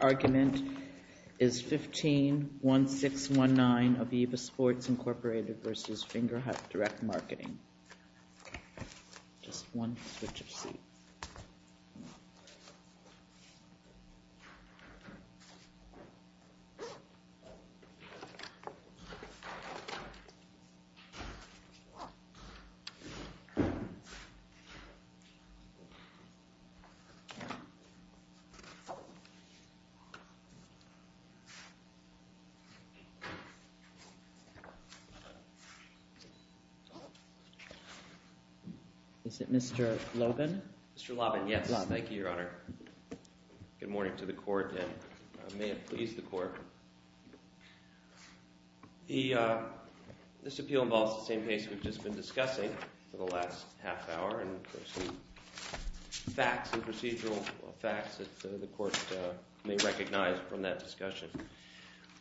Your argument is 15-1619 of Aviva Sports, Inc. v. Fingerhut Direct Marketing. Is it Mr. Lobben? Mr. Lobben, yes. Thank you, Your Honor. Good morning to the Court, and may it please the Court. This appeal involves the same case we've just been discussing for the last half hour, and facts and procedural facts that the Court may recognize from that discussion.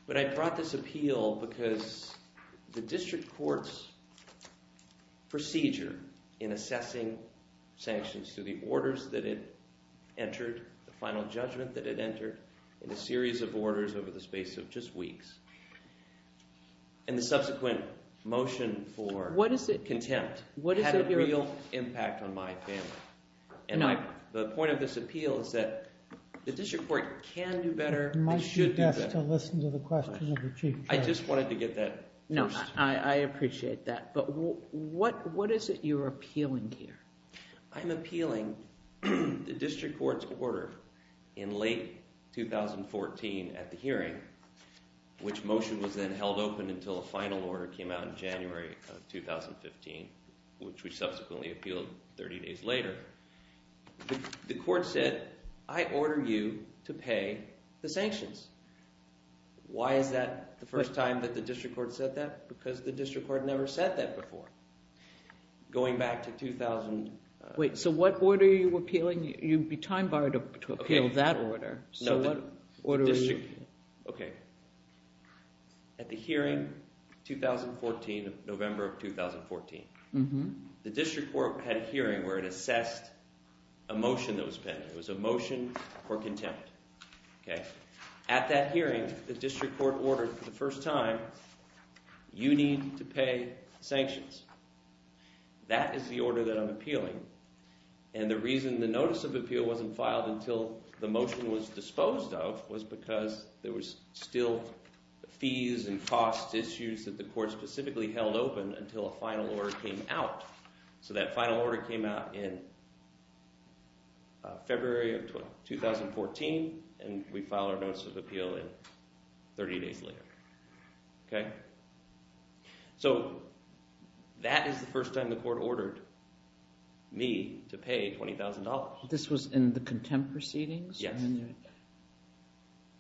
But I brought this appeal because the District Court's procedure in assessing sanctions through the orders that it entered, the final judgment that it entered, and a series of orders over the space of just weeks, and the subsequent motion for contempt, had a real impact on my family. And the point of this appeal is that the District Court can do better and should do better. You might suggest to listen to the question of the Chief Judge. I just wanted to get that first. No, I appreciate that. But what is it you're appealing here? I'm appealing the District Court's order in late 2014 at the hearing, which motion was then held open until a final order came out in January of 2015, which we subsequently appealed 30 days later. The Court said, I order you to pay the sanctions. Why is that the first time that the District Court said that? Because the District Court never said that before, going back to 2000. Wait, so what order are you appealing? You'd be time-barred to appeal that order. Okay. At the hearing, November of 2014, the District Court had a hearing where it assessed a motion that was penned. It was a motion for contempt. At that hearing, the District Court ordered for the first time, you need to pay sanctions. That is the order that I'm most disposed of, was because there was still fees and cost issues that the Court specifically held open until a final order came out. So that final order came out in February of 2014, and we filed our notice of appeal 30 days later. So that is the first time the Court ordered me to pay $20,000. This was in the contempt proceedings? Yes.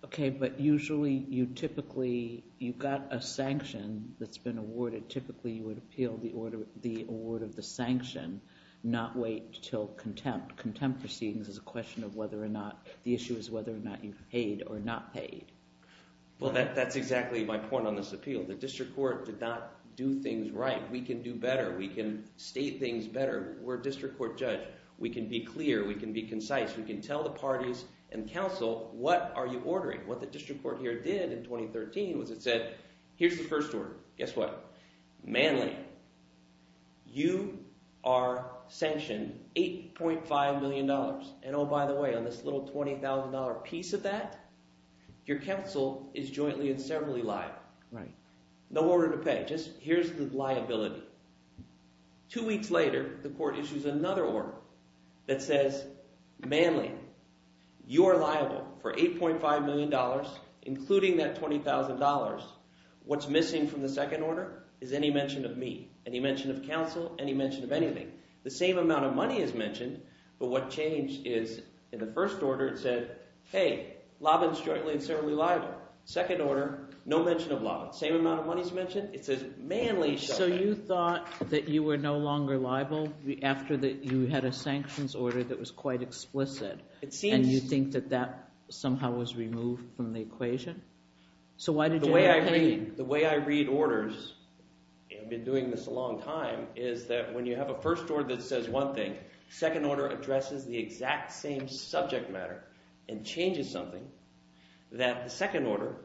Okay, but usually, you typically, you got a sanction that's been awarded. Typically, you would appeal the order, the award of the sanction, not wait until contempt. Contempt proceedings is a question of whether or not, the issue is whether or not you paid or not paid. Well, that's exactly my point on this appeal. The District Court did not do things right. We can do better. We can state things better. We're a District Court judge. We can be clear. We can be concise. We can tell the parties and counsel, what are you ordering? What the District Court here did in 2013 was it said, here's the first order. Guess what? Manly, you are sanctioned $8.5 million. Oh, by the way, on this little $20,000 piece of that, your counsel is jointly and severally liable. Right. No order to pay, just here's the liability. Two weeks later, the court issues another order that says, Manly, you are liable for $8.5 million, including that $20,000. What's missing from the second order is any mention of me, any mention of counsel, any mention of anything. The same amount of money is mentioned, but what changed is in the first order, it says Manly. So you thought that you were no longer liable after you had a sanctions order that was quite explicit, and you think that that somehow was removed from the equation? The way I read orders, and I've been doing this a long time, is that when you have a first order that says one thing, second order addresses the exact same subject matter and changes something, that the second order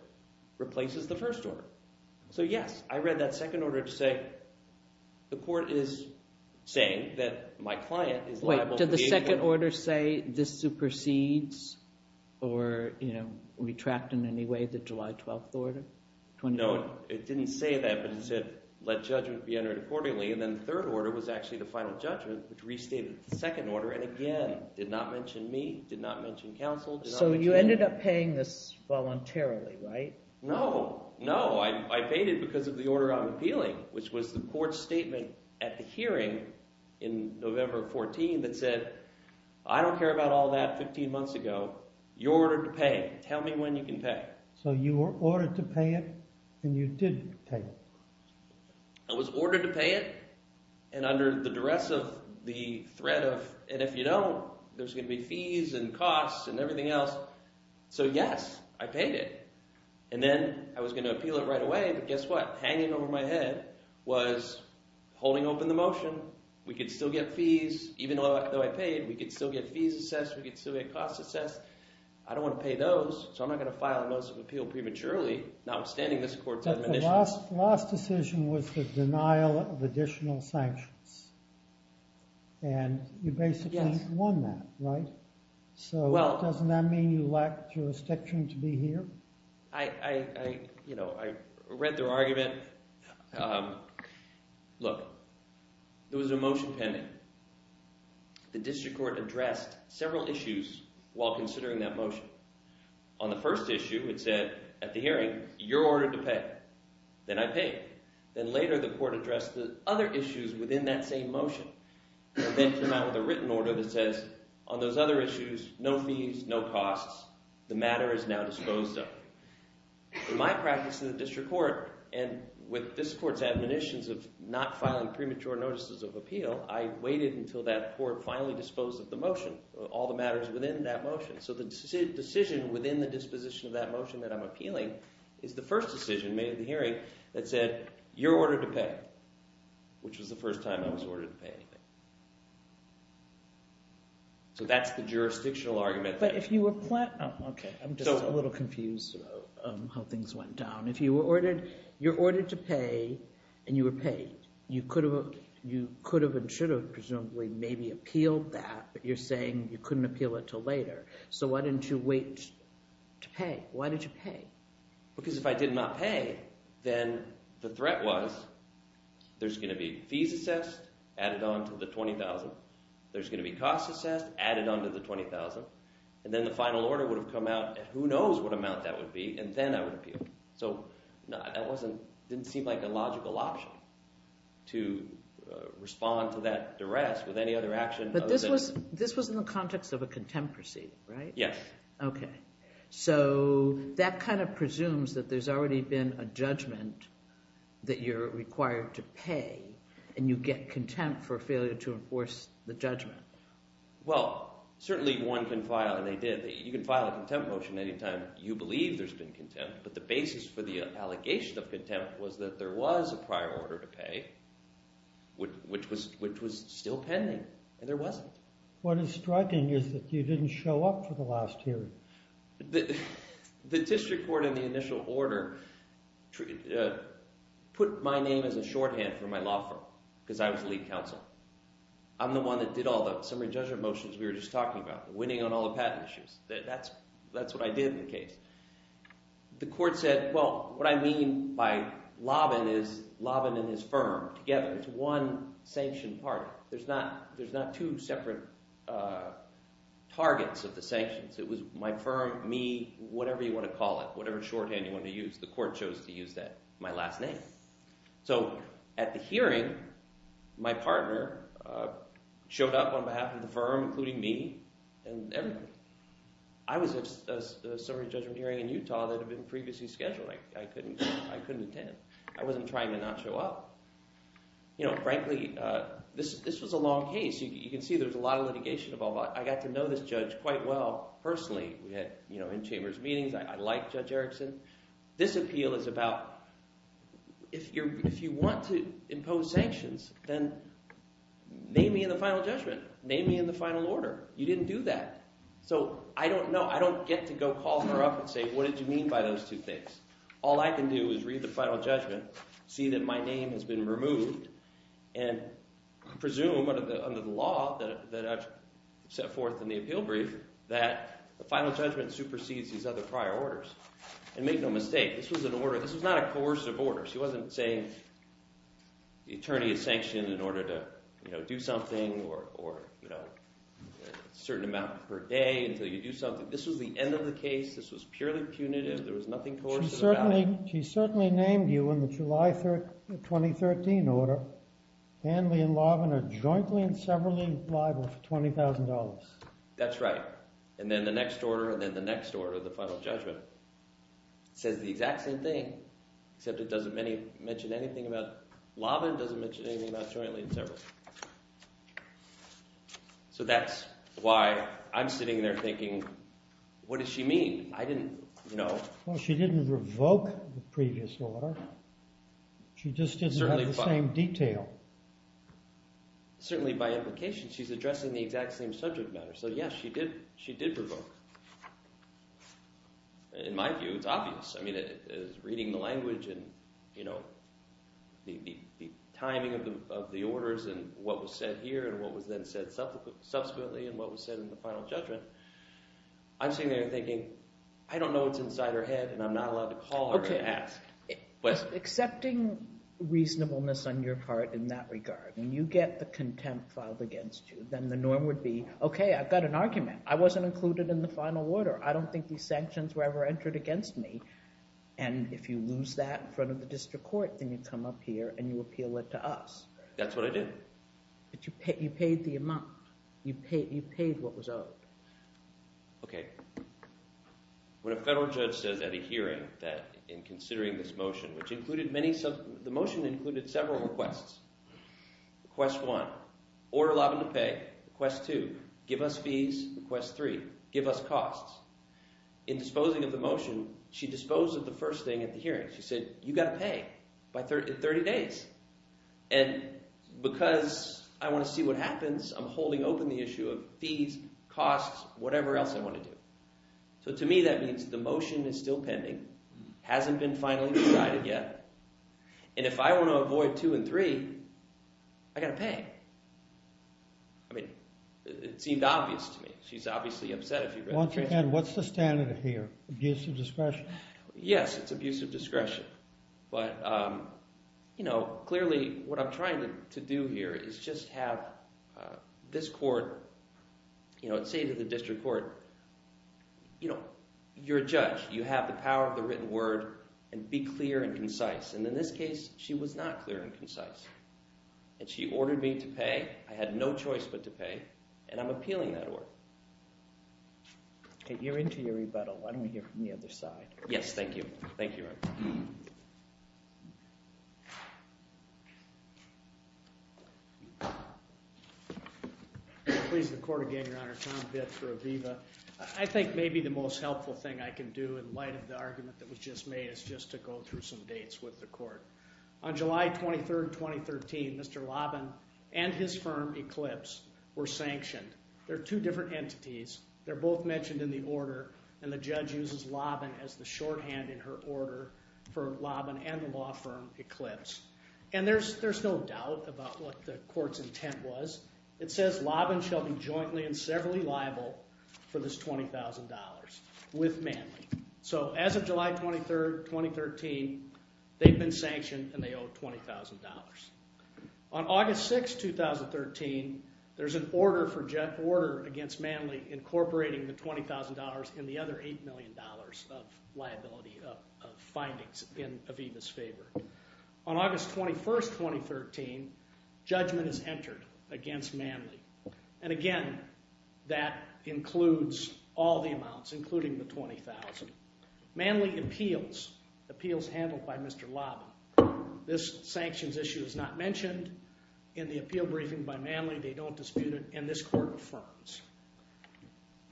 replaces the first order. So yes, I read that second order to say the court is saying that my client is liable for $8.5 million. Wait, did the second order say this supersedes or retract in any way the July 12th order? No, it didn't say that, but it said let judgment be entered accordingly, and then the third order was actually the final judgment, which restated the second order, and again, did not mention me, did not mention counsel. So you ended up paying this voluntarily, right? No, no, I paid it because of the order I'm appealing, which was the court's statement at the hearing in November 14 that said, I don't care about all that 15 months ago, you're ordered to pay. Tell me when you can pay. So you were ordered to pay it, and you did pay it. I was ordered to pay it, and under the duress of the threat of, and if you don't, there's going to be fees and costs and everything else. So yes, I paid it, and then I was going to appeal it right away, but guess what? Hanging over my head was holding open the motion. We could still get fees, even though I paid, we could still get fees assessed, we could still get costs assessed. I don't want to pay those, so I'm not going to file a notice of appeal prematurely, notwithstanding this court's admonition. Your last decision was the denial of additional sanctions, and you basically won that, right? So doesn't that mean you lack jurisdiction to be here? I read their argument. Look, there was a motion pending. The district court addressed several issues while considering that motion. On the first issue, it said at the hearing, you're not paying, then I pay. Then later, the court addressed the other issues within that same motion, then came out with a written order that says on those other issues, no fees, no costs, the matter is now disposed of. In my practice in the district court, and with this court's admonitions of not filing premature notices of appeal, I waited until that court finally disposed of the motion, all the matters within that motion. So the decision within the disposition of that motion that I'm appealing is the first decision made at the hearing that said, you're ordered to pay, which was the first time I was ordered to pay anything. So that's the jurisdictional argument. But if you were—oh, okay. I'm just a little confused about how things went down. If you were ordered to pay, and you were paid, you could have and should have presumably maybe appealed that, but you're saying you couldn't appeal it until later. So why didn't you wait to pay? Why did you pay? Because if I did not pay, then the threat was there's going to be fees assessed, added on to the $20,000. There's going to be costs assessed, added on to the $20,000. And then the final order would have come out at who knows what amount that would be, and then I would appeal. So that didn't seem like a logical option to respond to that duress with any other action other than— But this was in the context of a contempt proceeding, right? Yes. Okay. So that kind of presumes that there's already been a judgment that you're required to pay, and you get contempt for failure to enforce the judgment. Well, certainly one can file—and they did. You can file a contempt motion any time you believe there's been contempt, but the basis for the allegation of contempt was that there was a prior order to pay, which was still pending, and there wasn't. What is striking is that you didn't show up for the last hearing. The district court in the initial order put my name as a shorthand for my law firm because I was lead counsel. I'm the one that did all the summary judgment motions we were just talking about, the winning on all the patent issues. That's what I did in the case. The firm together. It's one sanctioned party. There's not two separate targets of the sanctions. It was my firm, me, whatever you want to call it, whatever shorthand you want to use. The court chose to use that, my last name. So at the hearing, my partner showed up on behalf of the firm, including me, and everybody. I was at a summary judgment hearing in Utah that had been previously scheduled. I couldn't attend. I wasn't trying to not show up. Frankly, this was a long case. You can see there's a lot of litigation involved. I got to know this judge quite well personally. We had in-chambers meetings. I like Judge Erickson. This appeal is about if you want to impose sanctions, then name me in the final judgment. Name me in the final order. You didn't do that. So I don't know. I don't get to go call her up and say, what did you mean by those two things? All I can do is read the final judgment, see that my name has been removed, and presume under the law that I've set forth in the appeal brief that the final judgment supersedes these other prior orders. And make no mistake, this was an order. This was not a coercive order. She wasn't saying the attorney is sanctioned in order to do something or a certain amount per day until you do something. This was the end of the case. This was purely punitive. There was nothing coercive about it. She certainly named you in the July 2013 order. Hanley and Lavin are jointly and severally liable for $20,000. That's right. And then the next order, and then the next order, the final judgment, says the exact same thing, except it doesn't mention anything about Lavin, doesn't mention anything So that's why I'm sitting there thinking, what does she mean? Well, she didn't revoke the previous order. She just didn't have the same detail. Certainly by implication. She's addressing the exact same subject matter. So yes, she did revoke. In my view, it's obvious. I mean, reading the language and the timing of the orders and what was said here and what was then said subsequently and what was said in the final judgment, I'm sitting there thinking, I don't know what's inside her head and I'm not allowed to call her and ask questions. Accepting reasonableness on your part in that regard, when you get the contempt filed against you, then the norm would be, okay, I've got an argument. I wasn't included in the final order. I don't think these sanctions were ever entered against me. And if you lose that in front of the district court, then you come up here and you appeal it to us. That's what I did. But you paid the amount. You paid what was owed. Okay. When a federal judge says at a hearing that in considering this motion, which included many, the motion included several requests. Request one, order Lavin to pay. Request two, give us fees. Request three, give us costs. In disposing of the motion, she disposed of the first thing at the hearing. She said, you've got to pay by 30 days. And because I want to see what happens, I'm holding open the issue of fees, costs, whatever else I want to do. So to me, that means the motion is still pending, hasn't been finally decided yet. And if I want to avoid two and three, I've got to pay. I mean, it seemed obvious to me. She's obviously upset. Once again, what's the standard here? Abuse of discretion? Yes, it's abuse of discretion. But, you know, clearly what I'm trying to do here is just have this court, you know, say to the district court, you know, you're a judge. You have the power of the written word and be clear and concise. And in this case, she was not clear and concise. And she ordered me to pay. I had no choice but to pay. And I'm appealing that order. Okay, you're into your rebuttal. Why don't we hear from the other side? Yes, thank you. Thank you, Your Honor. Please, the court again, Your Honor. Tom Vitt for Aviva. I think maybe the most helpful thing I can do in light of the argument that was just made is just to go through some dates with the court. On July 23rd, 2013, Mr. Lobin and his firm, Eclipse, were sanctioned. There are two different entities. They're both mentioned in the order. And the judge uses Lobin as the shorthand in her order for Lobin and the law firm, Eclipse. And there's no doubt about what the court's intent was. It says Lobin shall be jointly and severally liable for this $20,000 with Manley. So as of July 23rd, 2013, they've been sanctioned and they owe $20,000. On August 6th, 2013, there's an order against Manley incorporating the $20,000 and the other $8 million of liability of findings in Aviva's favor. On August 21st, 2013, judgment is entered against Manley. And again, that includes all the amounts, including the $20,000. Manley appeals, appeals handled by Mr. Lobin. This sanctions issue is not mentioned in the appeal briefing by Manley. They don't dispute it. And this court affirms.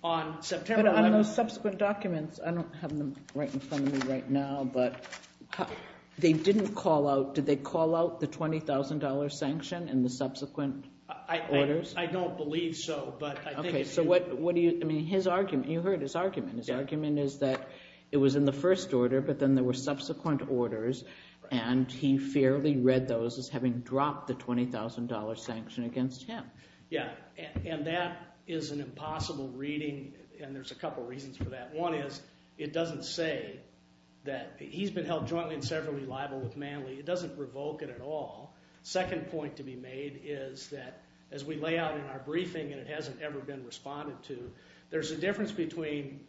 On September 11th... But on those subsequent documents, I don't have them right in front of me right now, but they didn't call out, did they call out the $20,000 sanction in the subsequent orders? I don't believe so, but I think it's... Okay, so what do you... I mean, his argument, you heard his argument. His argument is that it was in the first order, but then there were subsequent orders and he fairly read those as having dropped the $20,000 sanction against him. Yeah, and that is an impossible reading and there's a couple reasons for that. One is, it doesn't say that he's been held jointly and severally liable with Manley. It doesn't revoke it at all. Second point to be made is that, as we lay out in our briefing and it hasn't ever been responded to, there's a difference between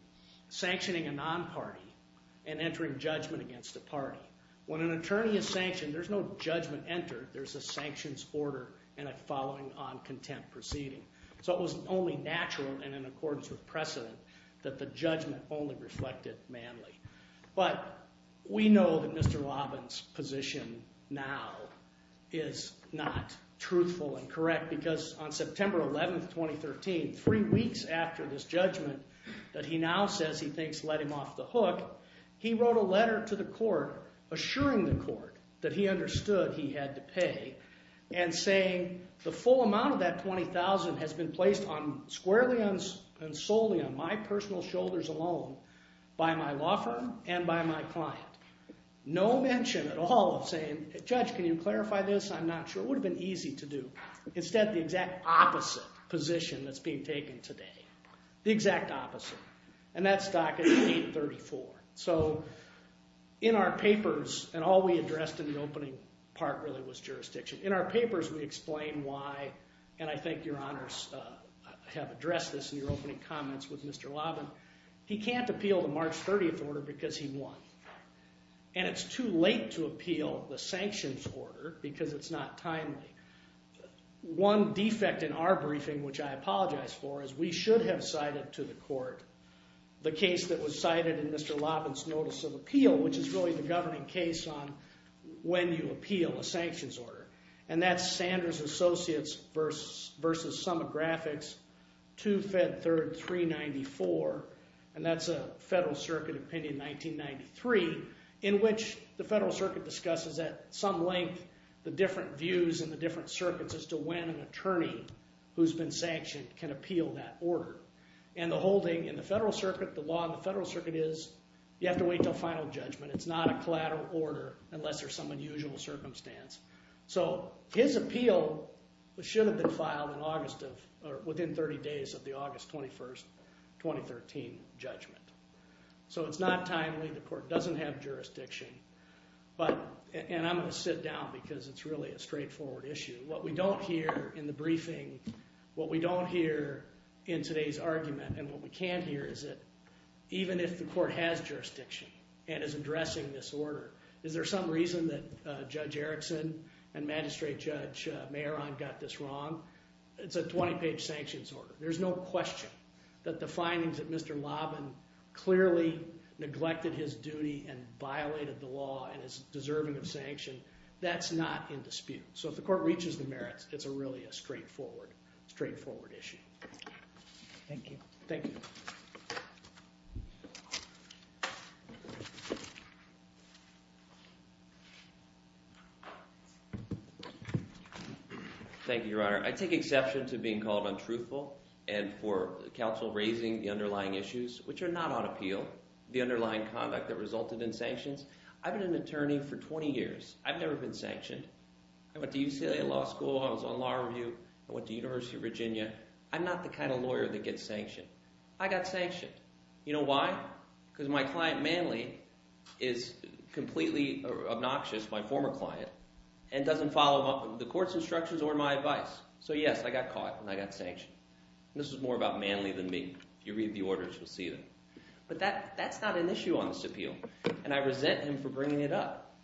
sanctioning a non-party and entering judgment against a party. When an attorney is sanctioned, there's no judgment entered. There's a sanctions order and a following on contempt proceeding. So it was only natural and in accordance with precedent that the judgment only reflected Manley. But we know that Mr. Robbins' position now is not truthful and correct because on September 11th, 2013, three weeks after this judgment that he now says he thinks led him off the hook, he wrote a letter to the court assuring the court that he understood he had to pay and saying the full amount of that $20,000 has been placed on... squarely and by myself and by my client. No mention at all of saying, Judge, can you clarify this? I'm not sure. It would have been easy to do. Instead, the exact opposite position that's being taken today. The exact opposite. And that stock is $834,000. So in our papers, and all we addressed in the opening part really was jurisdiction. In our papers, we explain why, and I think your honors have addressed this in your opening comments with Mr. Robbins, why he can't appeal the March 30th order because he won. And it's too late to appeal the sanctions order because it's not timely. One defect in our briefing, which I apologize for, is we should have cited to the court the case that was cited in Mr. Robbins' notice of appeal, which is really the governing case on when you appeal a sanctions order. And that's Sanders Associates v. Sum of Graphics, 2-Fed-3, 394, and that's a federal circuit opinion, 1993, in which the federal circuit discusses at some length the different views and the different circuits as to when an attorney who's been sanctioned can appeal that order. And the whole thing in the federal circuit, the law in the federal circuit is you have to wait until final judgment. It's not a collateral order unless there's some unusual circumstance. So his appeal should have been filed in August of, or within 30 days of the August 21, 2013 judgment. So it's not timely, the court doesn't have jurisdiction, but, and I'm going to sit down because it's really a straightforward issue. What we don't hear in the briefing, what we don't hear in today's argument and what we can hear is that even if the court has jurisdiction and is addressing this order, is there some reason that Judge Erickson and Magistrate Judge Mehron got this wrong? It's a 20-page sanctions order. There's no question that the findings that Mr. Loban clearly neglected his duty and violated the law and is deserving of sanction, that's not in dispute. So if the court reaches the merits, it's a really straightforward, straightforward issue. Thank you. Thank you, Your Honor. I take exception to being called untruthful and for counsel raising the underlying issues, which are not on appeal, the underlying conduct that resulted in sanctions. I've been an attorney for 20 years. I've never been sanctioned. I went to UCLA Law School, I was on law review, I went to University of Virginia. I'm not the kind of lawyer that gets sanctioned. I got sanctioned. You know why? Because my client Manley is completely obnoxious, my former client, and doesn't follow the court's instructions or my advice. So yes, I got caught and I got sanctioned. This is more about Manley than me. If you read the orders, you'll see that. But that's not an issue on this appeal. And I resent him for bringing it up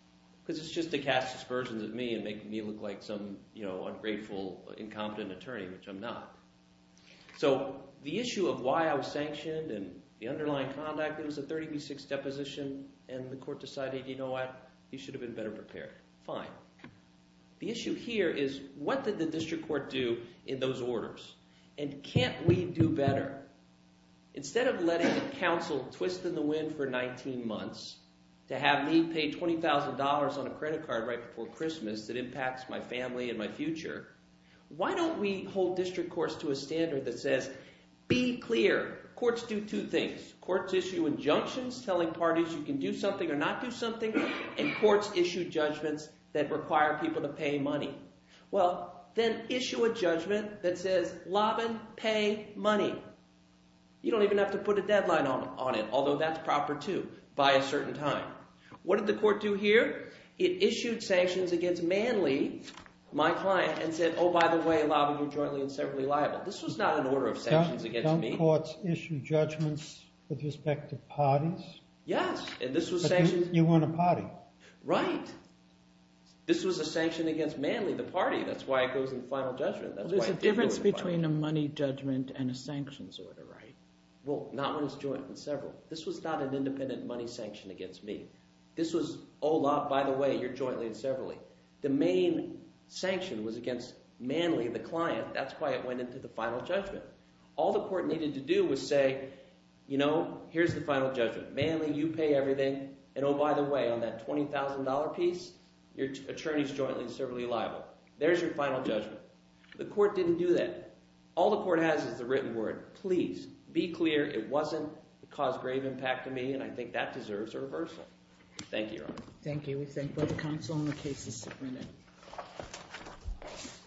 because it's just to cast aspersions at me and make me look like some ungrateful, incompetent attorney, which I'm not. So the issue of why I was sanctioned and the underlying conduct, it was a 30 v. 6 deposition and the court decided, you know what, you should have been better prepared. Fine. The issue here is what did the district court do in those orders and can't we do better? Instead of letting counsel twist in the wind for 19 months to have me pay $20,000 on a tax my family and my future, why don't we hold district courts to a standard that says be clear. Courts do two things. Courts issue injunctions telling parties you can do something or not do something, and courts issue judgments that require people to pay money. Well, then issue a judgment that says Lobin, pay money. You don't even have to put a deadline on it, although that's proper too by a certain time. What did the court do here? It issued sanctions against Manley, my client, and said, oh, by the way, Lobin, you're jointly and severally liable. This was not an order of sanctions against me. Don't courts issue judgments with respect to parties? Yes, and this was sanctioned. But you weren't a party. Right. This was a sanction against Manley, the party. That's why it goes in final judgment. There's a difference between a money judgment and a sanctions order, right? Well, not when it's jointly and several. This was not an independent money sanction against me. This was, oh, Lob, by the way, you're jointly and severally. The main sanction was against Manley, the client. That's why it went into the final judgment. All the court needed to do was say, here's the final judgment. Manley, you pay everything. And oh, by the way, on that $20,000 piece, your attorney's jointly and severally liable. There's your final judgment. The court didn't do that. All the court has is the written word. Please be clear it wasn't. It caused grave impact to me, and I think that deserves a reversal. Thank you, Your Honor. Thank you. We thank both the counsel and the cases submitted.